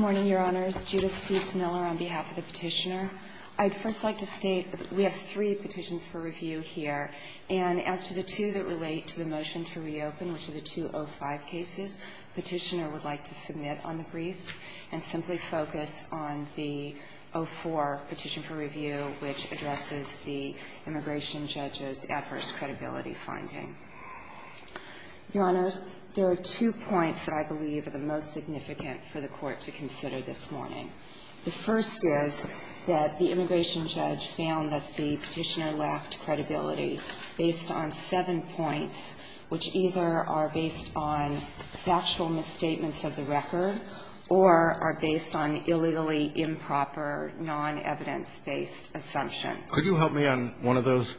on behalf of the Petitioner. I'd first like to state that we have three petitions for review here, and as to the two that relate to the motion to reopen, which are the two O5 cases, Petitioner would like to submit on the briefs and simply focus on the O4 petition for review, which addresses the immigration judge's adverse credibility finding. Your Honors, there are two points that I believe are the most significant for the Court to consider this morning. The first is that the immigration judge found that the Petitioner lacked credibility based on seven points, which either are based on factual misstatements of the record or are based on illegally improper, non-evidence-based assumptions. Could you help me on one of those?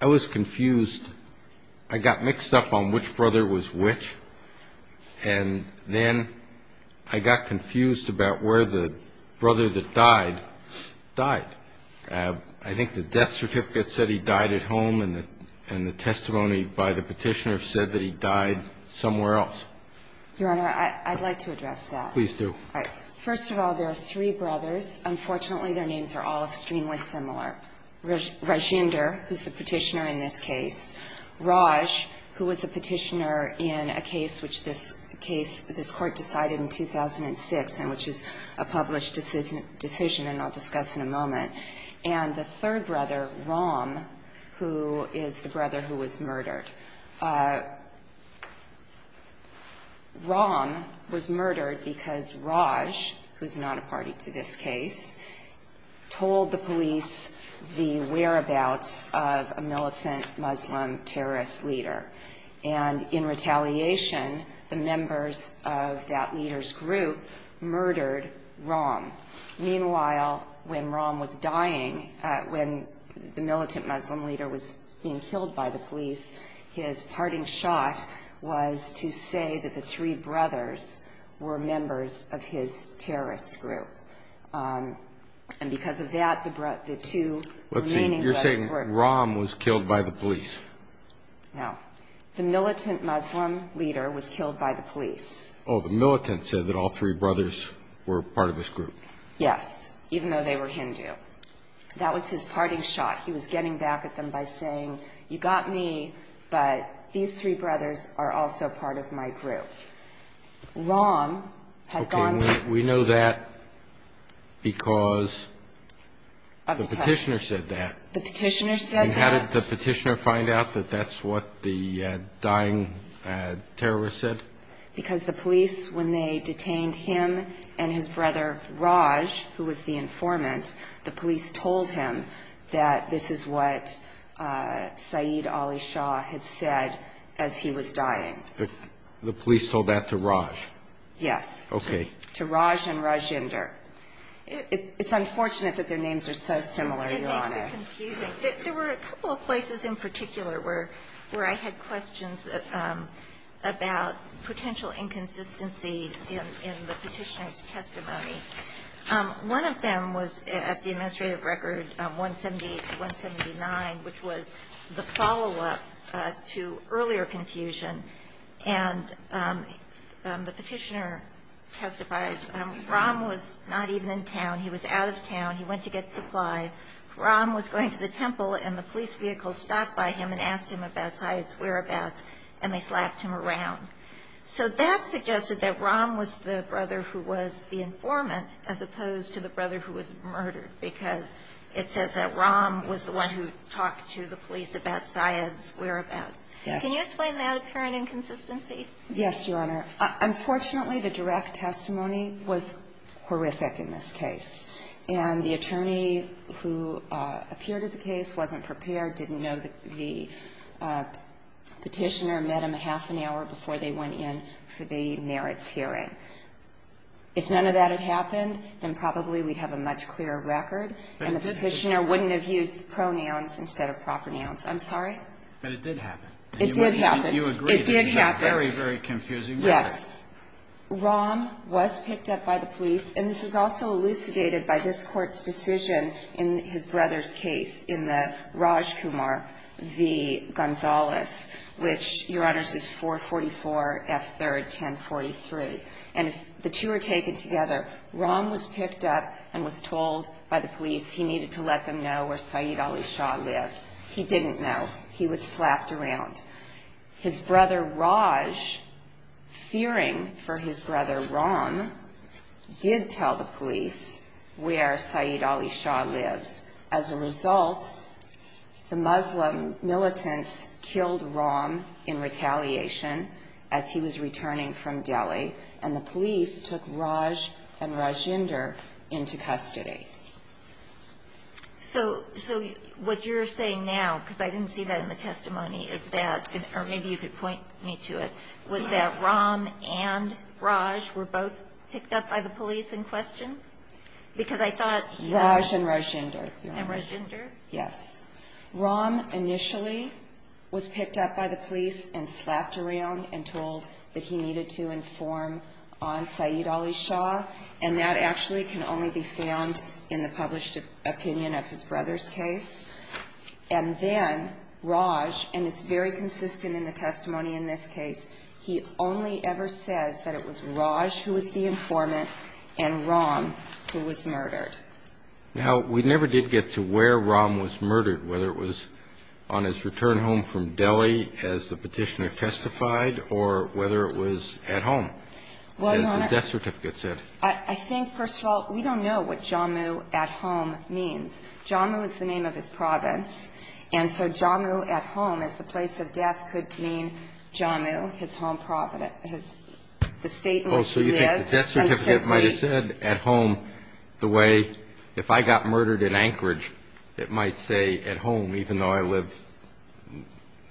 I was confused. I got mixed up on which brother was which, and then I got confused about where the brother that died died. I think the death certificate said he died at home, and the testimony by the Petitioner said that he died somewhere else. Your Honor, I'd like to address that. Please do. First of all, there are three brothers. Unfortunately, their names are all extremely similar. Rajinder, who's the Petitioner in this case. Raj, who was a Petitioner in a case which this case, this Court decided in 2006 and which is a published decision, and I'll discuss in a moment. And the third brother, Ram, who is the brother who was murdered. Ram was murdered because Raj, who's not a party to this case, told the police the whereabouts of a militant Muslim terrorist leader. And in retaliation, the members of that leader's group murdered Ram. Meanwhile, when Ram was dying, when the militant Muslim leader was being killed by the police, his parting shot was to say that the three brothers were members of his terrorist group. And because of that, the two remaining brothers were killed. Let's see. You're saying Ram was killed by the police. No. The militant Muslim leader was killed by the police. Oh, the militant said that all three brothers were part of his group. Yes, even though they were Hindu. That was his parting shot. He was getting back at them by saying, you got me, but these three brothers are also part of my group. Ram had gone to the police. Okay, we know that because the Petitioner said that. The Petitioner said that. And how did the Petitioner find out that that's what the dying terrorist said? Because the police, when they detained him and his brother Raj, who was the informant, the police told him that this is what Saeed Ali Shah had said as he was dying. The police told that to Raj? Yes. Okay. To Raj and Rajinder. It's unfortunate that their names are so similar, Your Honor. It makes it confusing. There were a couple of places in particular where I had questions about potential inconsistency in the Petitioner's testimony. One of them was at the administrative record 179, which was the follow-up to earlier confusion. And the Petitioner testifies, Ram was not even in town. He was out of town. He went to get supplies. Ram was going to the temple, and the police vehicle stopped by him and asked him about Saeed's whereabouts, and they slapped him around. So that suggested that Ram was the brother who was the informant, as opposed to the brother who was murdered, because it says that Ram was the one who talked to the police about Saeed's whereabouts. Yes. Can you explain that apparent inconsistency? Yes, Your Honor. Unfortunately, the direct testimony was horrific in this case. And the attorney who appeared at the case wasn't prepared, didn't know the Petitioner met him a half an hour before they went in for the merits hearing. If none of that had happened, then probably we'd have a much clearer record, and the Petitioner wouldn't have used pronouns instead of proper nouns. I'm sorry? But it did happen. It did happen. You agree this is a very, very confusing record. Yes. Ram was picked up by the police, and this is also elucidated by this Court's decision in his brother's case in the Rajkumar v. Gonzales, which, Your Honors, is 444 F. 3rd, 1043. And the two are taken together. Ram was picked up and was told by the police he needed to let them know where Saeed Ali Shah lived. He didn't know. He was slapped around. His brother Raj, fearing for his brother Ram, did tell the police where Saeed Ali Shah lives. As a result, the Muslim militants killed Ram in retaliation as he was returning from Delhi, and the police took Raj and Rajinder into custody. So what you're saying now, because I didn't see that in the testimony, is that or maybe you could point me to it, was that Ram and Raj were both picked up by the police in question? Because I thought he was. Raj and Rajinder. And Rajinder? Yes. Ram initially was picked up by the police and slapped around and told that he needed to inform on Saeed Ali Shah, and that actually can only be found in the published opinion of his brother's case. And then Raj, and it's very consistent in the testimony in this case, he only ever says that it was Raj who was the informant and Ram who was murdered. Now, we never did get to where Ram was murdered, whether it was on his return home from Delhi as the Petitioner testified or whether it was at home, as the death certificate said. I think, first of all, we don't know what Jammu at home means. Jammu is the name of his province, and so Jammu at home as the place of death could mean Jammu, his home province, the state in which he lived. Oh, so you think the death certificate might have said at home the way if I got murdered in Anchorage, it might say at home, even though I live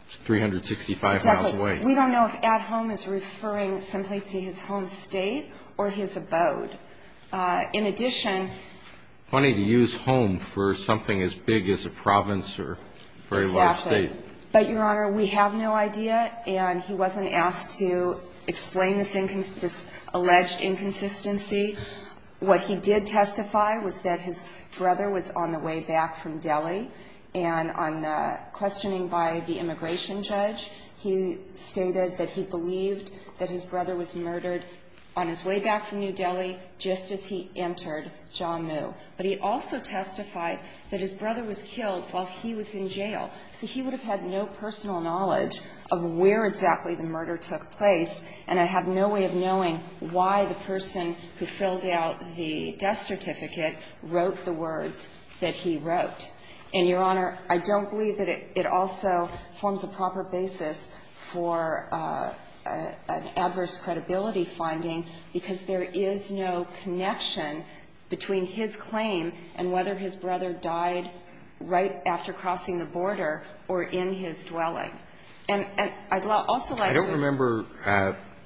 365 miles away. Exactly. We don't know if at home is referring simply to his home state or his abode. In addition ---- Funny to use home for something as big as a province or a very large state. Exactly. But, Your Honor, we have no idea, and he wasn't asked to explain this alleged inconsistency. What he did testify was that his brother was on the way back from Delhi, and on questioning by the immigration judge, he stated that he believed that his brother was murdered on his way back from New Delhi just as he entered Jammu. But he also testified that his brother was killed while he was in jail. So he would have had no personal knowledge of where exactly the murder took place, and I have no way of knowing why the person who filled out the death certificate wrote the words that he wrote. And, Your Honor, I don't believe that it also forms a proper basis for an adverse credibility finding, because there is no connection between his claim and whether his brother died right after crossing the border or in his dwelling. And I'd also like to ---- I don't remember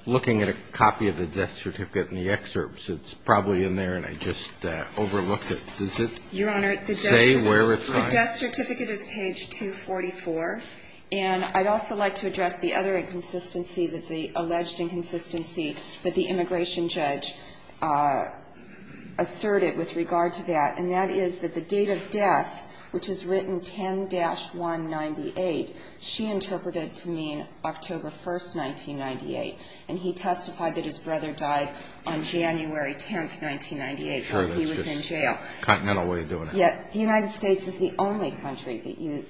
looking at a copy of the death certificate in the excerpts. It's probably in there, and I just overlooked it. Does it say where it's on? Your Honor, the death certificate is page 244. And I'd also like to address the other inconsistency that the alleged inconsistency that the immigration judge asserted with regard to that, and that is that the date of death, which is written 10-198, she interpreted to mean October 1st, 1998. And he testified that his brother died on January 10th, 1998, while he was in jail. Sure, that's a continental way of doing it. Yet the United States is the only country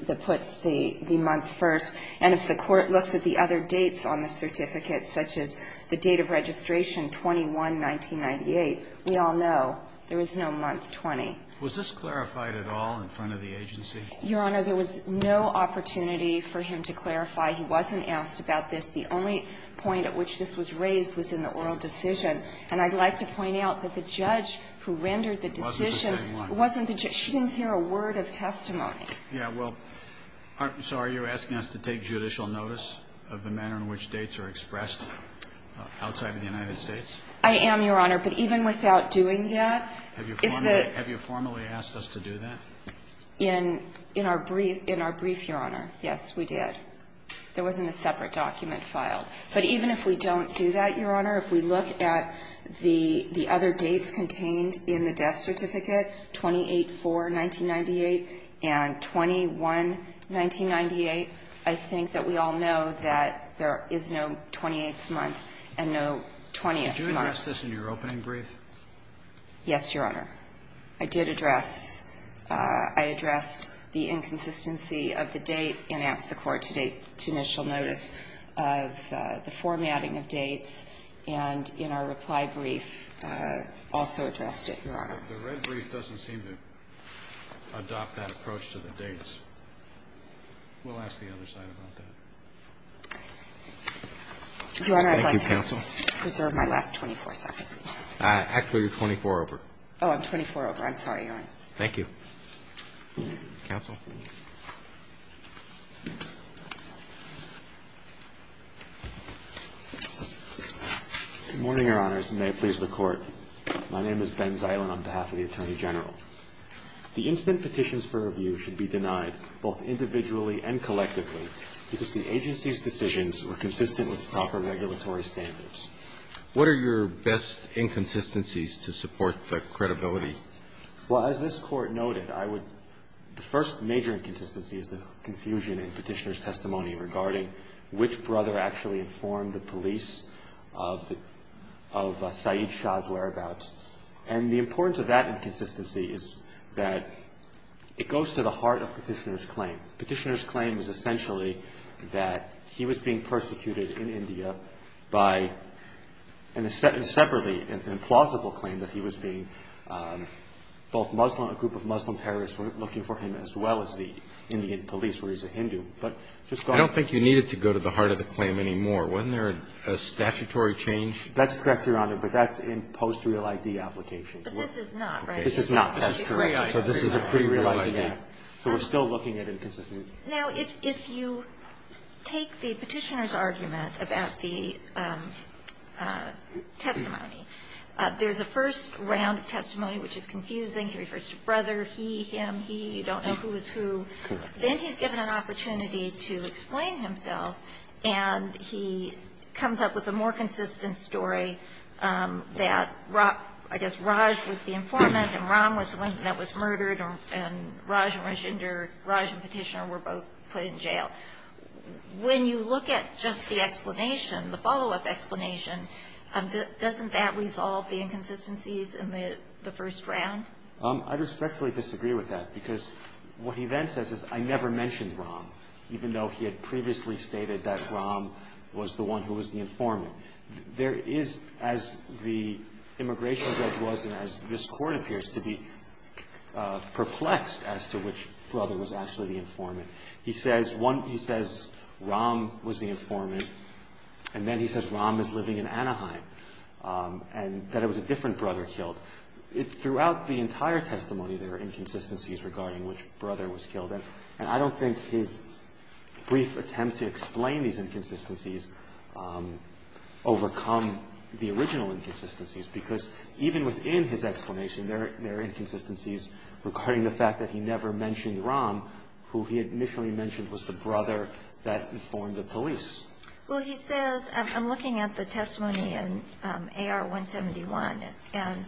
that puts the month first. And if the Court looks at the other dates on the certificate, such as the date of registration, 21-1998, we all know there is no month 20. Was this clarified at all in front of the agency? Your Honor, there was no opportunity for him to clarify. He wasn't asked about this. The only point at which this was raised was in the oral decision. And I'd like to point out that the judge who rendered the decision ---- It wasn't the same one. It wasn't the judge. She didn't hear a word of testimony. Yeah, well, so are you asking us to take judicial notice of the manner in which dates are expressed outside of the United States? I am, Your Honor. But even without doing that ---- Have you formally asked us to do that? In our brief, Your Honor, yes, we did. There wasn't a separate document filed. But even if we don't do that, Your Honor, if we look at the other dates contained in the death certificate, 28-4-1998 and 21-1998, I think that we all know that there is no 28th month and no 20th month. Did you address this in your opening brief? Yes, Your Honor. I did address ---- I addressed the inconsistency of the date and asked the Court to take judicial notice of the formatting of dates. And in our reply brief, also addressed it, Your Honor. The red brief doesn't seem to adopt that approach to the dates. We'll ask the other side about that. Your Honor, I'd like to preserve my last 24 seconds. Actually, you're 24 over. Oh, I'm 24 over. I'm sorry, Your Honor. Thank you. Counsel. Good morning, Your Honors, and may it please the Court. My name is Ben Ziland on behalf of the Attorney General. The instant petitions for review should be denied both individually and collectively because the agency's decisions were consistent with proper regulatory standards. What are your best inconsistencies to support the credibility? Well, as this Court noted, I would ---- the first major inconsistency is the confusion in Petitioner's testimony regarding which brother actually informed the police of Saeed Shah's whereabouts. And the importance of that inconsistency is that it goes to the heart of Petitioner's claim. Petitioner's claim is essentially that he was being persecuted in India by, separately, an implausible claim that he was being both Muslim, a group of Muslim terrorists were looking for him, as well as the Indian police, where he's a Hindu. But just go ahead. I don't think you need it to go to the heart of the claim anymore. Wasn't there a statutory change? That's correct, Your Honor, but that's in post-real ID applications. But this is not, right? This is not. That's correct. So this is a pre-real ID. So we're still looking at inconsistencies. Now, if you take the Petitioner's argument about the testimony, there's a first round of testimony which is confusing. He refers to brother, he, him, he, you don't know who is who. Correct. Then he's given an opportunity to explain himself, and he comes up with a more consistent story that, I guess, Raj was the informant and Ram was the one that was murdered and Raj and Petitioner were both put in jail. When you look at just the explanation, the follow-up explanation, doesn't that resolve the inconsistencies in the first round? I respectfully disagree with that because what he then says is I never mentioned Ram, even though he had previously stated that Ram was the one who was the informant. There is, as the immigration judge was and as this Court appears to be, perplexed as to which brother was actually the informant. He says Ram was the informant, and then he says Ram is living in Anaheim and that it was a different brother killed. Throughout the entire testimony, there are inconsistencies regarding which brother was killed, and I don't think his brief attempt to explain these inconsistencies overcome the original inconsistencies, because even within his explanation, there are inconsistencies regarding the fact that he never mentioned Ram, who he had Well, he says, I'm looking at the testimony in AR-171, and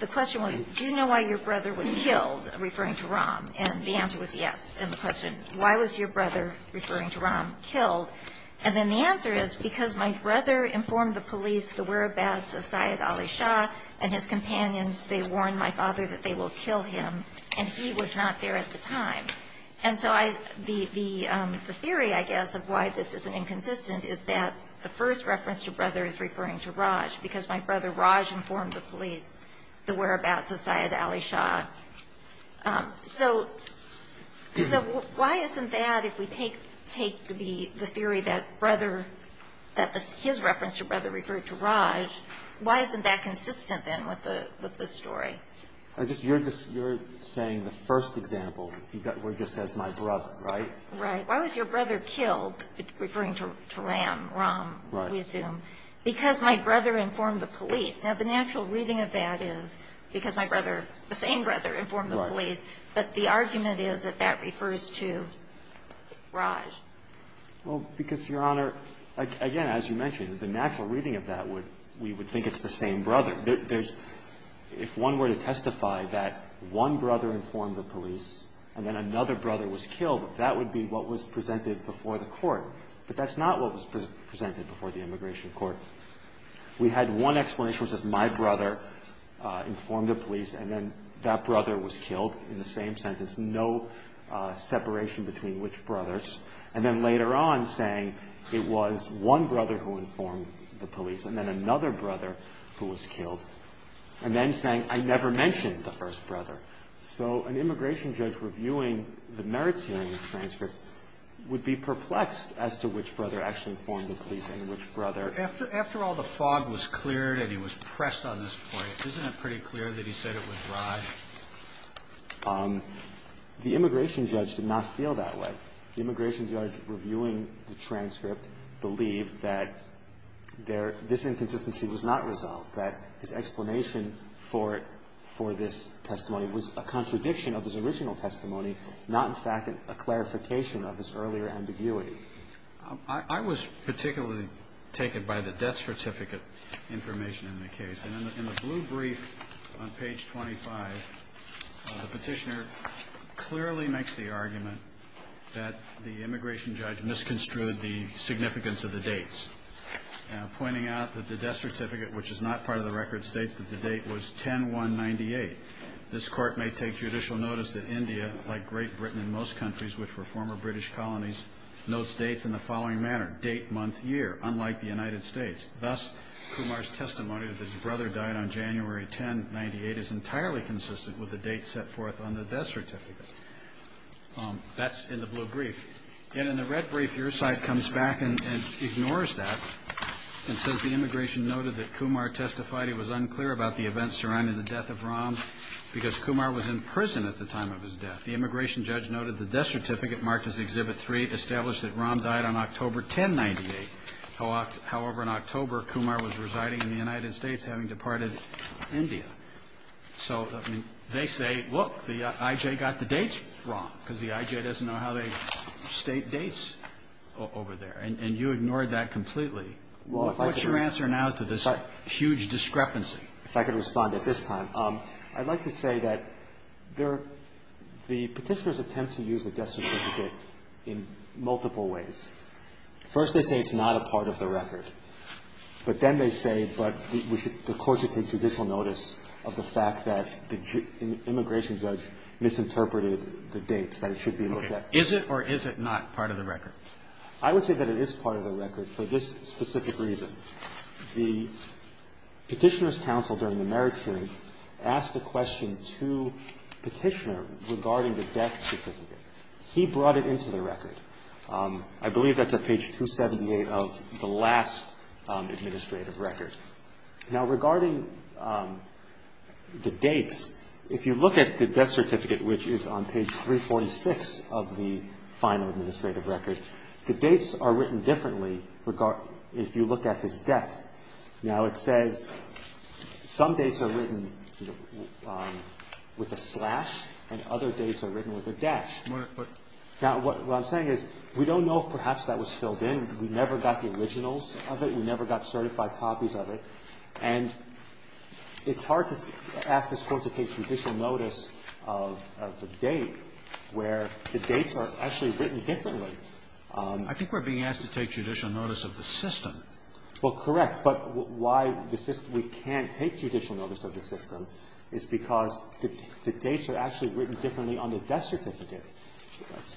the question was, do you know why your brother was killed, referring to Ram? And the answer was yes. And the question, why was your brother, referring to Ram, killed? And then the answer is, because my brother informed the police, the whereabouts of Syed Ali Shah and his companions. They warned my father that they will kill him, and he was not there at the time. And so the theory, I guess, of why this is inconsistent is that the first reference to brother is referring to Raj, because my brother Raj informed the police the whereabouts of Syed Ali Shah. So why isn't that, if we take the theory that his reference to brother referred to Raj, why isn't that consistent, then, with the story? You're saying the first example, where it just says my brother, right? Right. Why was your brother killed, referring to Ram, Ram, we assume? Because my brother informed the police. Now, the natural reading of that is, because my brother, the same brother, informed the police. But the argument is that that refers to Raj. Well, because, Your Honor, again, as you mentioned, the natural reading of that would, we would think it's the same brother. If one were to testify that one brother informed the police, and then another brother was killed, that would be what was presented before the court. But that's not what was presented before the immigration court. We had one explanation, which was my brother informed the police, and then that brother was killed, in the same sentence, no separation between which brothers. And then later on, saying it was one brother who informed the police, and then another brother who was killed. And then saying, I never mentioned the first brother. So an immigration judge reviewing the merits hearing transcript would be perplexed as to which brother actually informed the police and which brother. After all the fog was cleared and he was pressed on this point, isn't it pretty clear that he said it was Raj? The immigration judge did not feel that way. The immigration judge reviewing the transcript believed that this inconsistency was not resolved. That his explanation for this testimony was a contradiction of his original testimony, not, in fact, a clarification of his earlier ambiguity. I was particularly taken by the death certificate information in the case. And in the blue brief on page 25, the petitioner clearly makes the argument that the immigration judge misconstrued the significance of the dates, pointing out that the death certificate, which is not part of the record, states that the date was 10-1-98. This court may take judicial notice that India, like Great Britain in most countries, which were former British colonies, notes dates in the following manner, date, month, year, unlike the United States. Thus, Kumar's testimony that his brother died on January 10-98 is entirely consistent with the date set forth on the death certificate. That's in the blue brief. And in the red brief, your side comes back and ignores that and says the immigration noted that Kumar testified he was unclear about the events surrounding the death of Ram because Kumar was in prison at the time of his death. The immigration judge noted the death certificate marked as Exhibit 3 established that Ram died on October 10-98. However, in October, Kumar was residing in the United States, having departed India. So, I mean, they say, look, the I.J. got the dates wrong, because the I.J. doesn't know how they state dates over there. And you ignored that completely. What's your answer now to this huge discrepancy? Gershengorn If I could respond at this time, I'd like to say that there are the petitioner's attempts to use the death certificate in multiple ways. First, they say it's not a part of the record. But then they say, but the court should take judicial notice of the fact that the immigration judge misinterpreted the dates, that it should be looked at. Alito Is it or is it not part of the record? Gershengorn I would say that it is part of the record for this specific reason. The Petitioner's counsel during the merits hearing asked a question to Petitioner regarding the death certificate. He brought it into the record. I believe that's at page 278 of the last administrative record. Now, regarding the dates, if you look at the death certificate, which is on page 346 of the final administrative record, the dates are written differently if you look at his death. Now, it says some dates are written with a slash and other dates are written with a dash. Now, what I'm saying is we don't know if perhaps that was filled in. We never got the originals of it. We never got certified copies of it. And it's hard to ask this Court to take judicial notice of a date where the dates are actually written differently. Scalia I think we're being asked to take judicial notice of the system. Gershengorn Well, correct. But why we can't take judicial notice of the system is because the dates are actually written differently on the death certificate.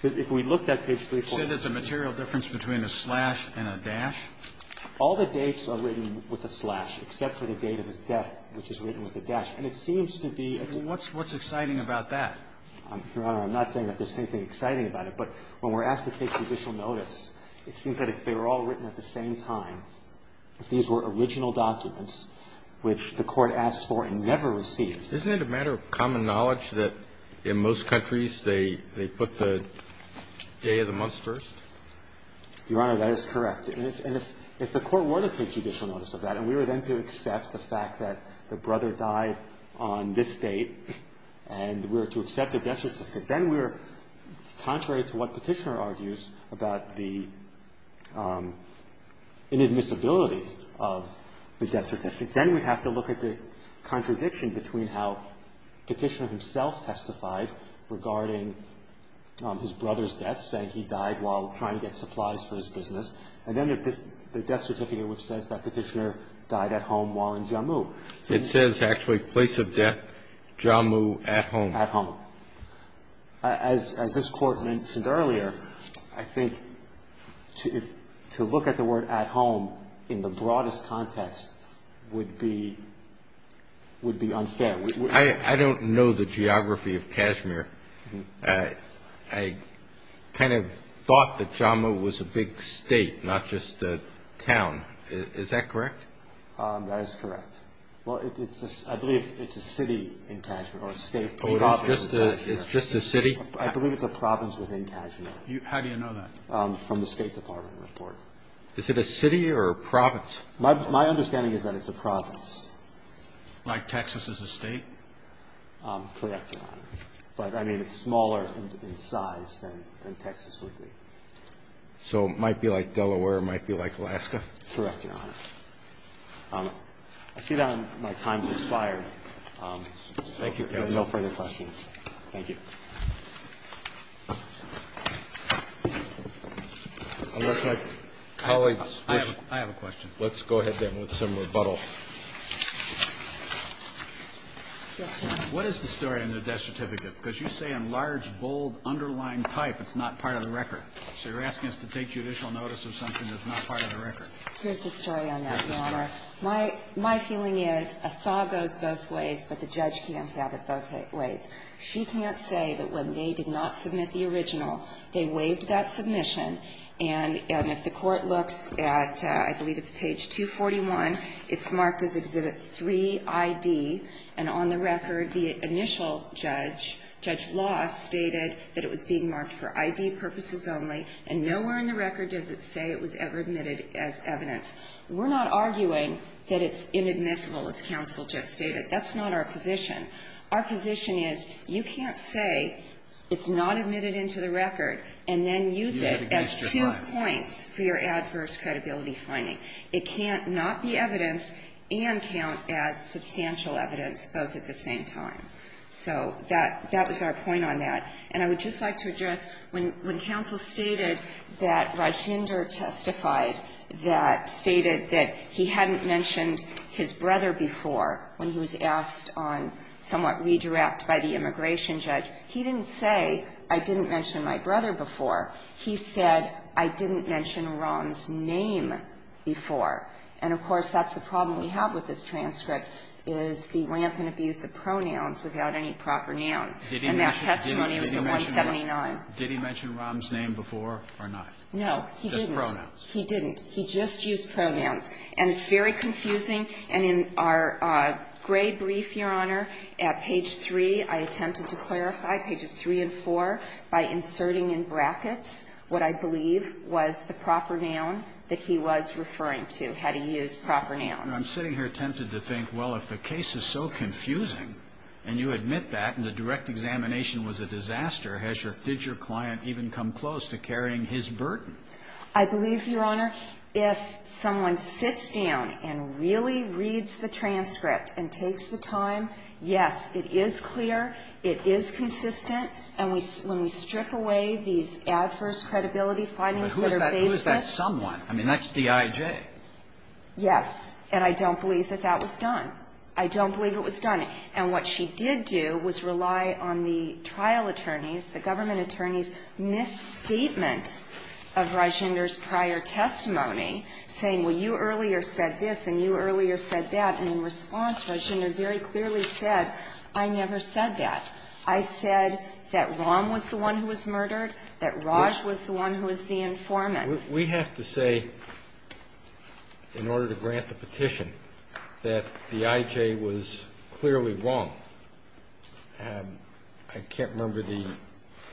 If we looked at page 346. Alito You said there's a material difference between a slash and a dash? Gershengorn All the dates are written with a slash, except for the date of his death, which is written with a dash. And it seems to be a difference. Alito What's exciting about that? Gershengorn Your Honor, I'm not saying that there's anything exciting about it. But when we're asked to take judicial notice, it seems that if they were all written at the same time, if these were original documents which the Court asked for and never received. Kennedy Isn't it a matter of common knowledge that in most countries they put the day of the month first? Gershengorn Your Honor, that is correct. And if the Court were to take judicial notice of that, and we were then to accept the fact that the brother died on this date, and we were to accept the death certificate, then we're, contrary to what Petitioner argues about the inadmissibility of the death certificate. Then we have to look at the contradiction between how Petitioner himself testified regarding his brother's death, saying he died while trying to get supplies for his business, and then the death certificate which says that Petitioner died at home while in Jammu. Kennedy It says, actually, place of death, Jammu, at home. Gershengorn At home. As this Court mentioned earlier, I think to look at the word at home in the broadest context would be unfair. Kennedy I don't know the geography of Kashmir. I kind of thought that Jammu was a big state, not just a town. Is that correct? Gershengorn That is correct. I believe it's a city in Kashmir, or a state. Kennedy It's just a city? Gershengorn I believe it's a province within Kashmir. Kennedy How do you know that? Gershengorn From the State Department report. Kennedy Is it a city or a province? Gershengorn My understanding is that it's a province. Kennedy Like Texas as a state? Gershengorn Correct, Your Honor. But, I mean, it's smaller in size than Texas would be. Kennedy So it might be like Delaware, it might be like Alaska? Gershengorn Correct, Your Honor. I see that my time has expired. Thank you. There are no further questions. Thank you. Roberts I have a question. Kennedy Let's go ahead then with some rebuttal. What is the story on the death certificate? Because you say in large, bold, underlying type it's not part of the record. So you're asking us to take judicial notice of something that's not part of the record. Gershengorn Here's the story on that, Your Honor. My feeling is a saw goes both ways, but the judge can't have it both ways. She can't say that when they did not submit the original, they waived that submission. And if the Court looks at, I believe it's page 241, it's marked as Exhibit 3ID. And on the record, the initial judge, Judge Loss, stated that it was being marked for ID purposes only. And nowhere in the record does it say it was ever admitted as evidence. We're not arguing that it's inadmissible, as counsel just stated. That's not our position. Our position is you can't say it's not admitted into the record and then use it as two points for your adverse credibility finding. It can't not be evidence and count as substantial evidence both at the same time. So that was our point on that. And I would just like to address, when counsel stated that Rajinder testified that stated that he hadn't mentioned his brother before when he was asked on somewhat redirect by the immigration judge, he didn't say, I didn't mention my brother before. He said, I didn't mention Ron's name before. And, of course, that's the problem we have with this transcript, is the rampant abuse of pronouns without any proper nouns. And that testimony was at 179. Did he mention Ron's name before or not? No, he didn't. Just pronouns. He didn't. He just used pronouns. And it's very confusing. And in our grade brief, Your Honor, at page 3, I attempted to clarify pages 3 and 4 by inserting in brackets what I believe was the proper noun that he was referring to, had he used proper nouns. And I'm sitting here tempted to think, well, if the case is so confusing and you admit that and the direct examination was a disaster, has your – did your client even come close to carrying his burden? I believe, Your Honor, if someone sits down and really reads the transcript and takes the time, yes, it is clear, it is consistent. And when we strip away these adverse credibility findings that are baseless – But who is that someone? I mean, that's D.I.J. Yes. And I don't believe that that was done. I don't believe it was done. And what she did do was rely on the trial attorneys, the government attorneys' misstatement of Rajender's prior testimony, saying, well, you earlier said this and you earlier said that. And in response, Rajender very clearly said, I never said that. I said that Rahm was the one who was murdered, that Raj was the one who was the informant. We have to say, in order to grant the petition, that D.I.J. was clearly wrong. I can't remember the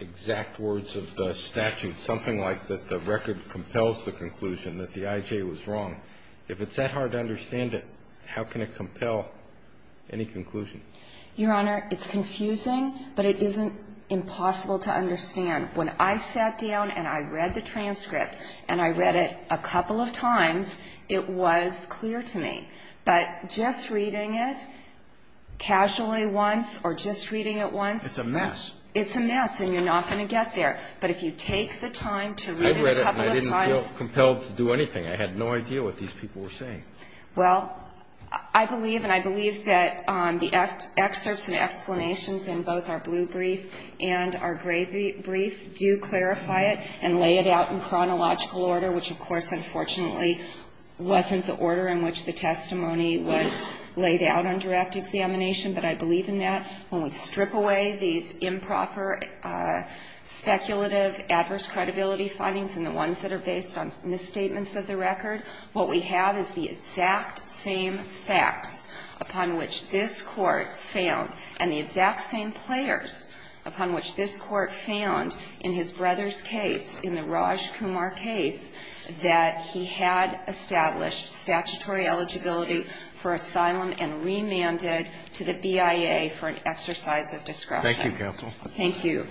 exact words of the statute, something like that the record compels the conclusion that D.I.J. was wrong. If it's that hard to understand it, how can it compel any conclusion? Your Honor, it's confusing, but it isn't impossible to understand. When I sat down and I read the transcript and I read it a couple of times, it was clear to me. But just reading it casually once or just reading it once. It's a mess. It's a mess and you're not going to get there. But if you take the time to read it a couple of times. I read it and I didn't feel compelled to do anything. I had no idea what these people were saying. Well, I believe and I believe that the excerpts and explanations in both our blue brief do clarify it and lay it out in chronological order, which, of course, unfortunately wasn't the order in which the testimony was laid out on direct examination. But I believe in that. When we strip away these improper, speculative, adverse credibility findings and the ones that are based on misstatements of the record, what we have is the exact same facts upon which this Court found and the exact same players upon which this Court found in his brother's case, in the Raj Kumar case, that he had established statutory eligibility for asylum and remanded to the BIA for an exercise of discretion. Thank you, counsel. Thank you.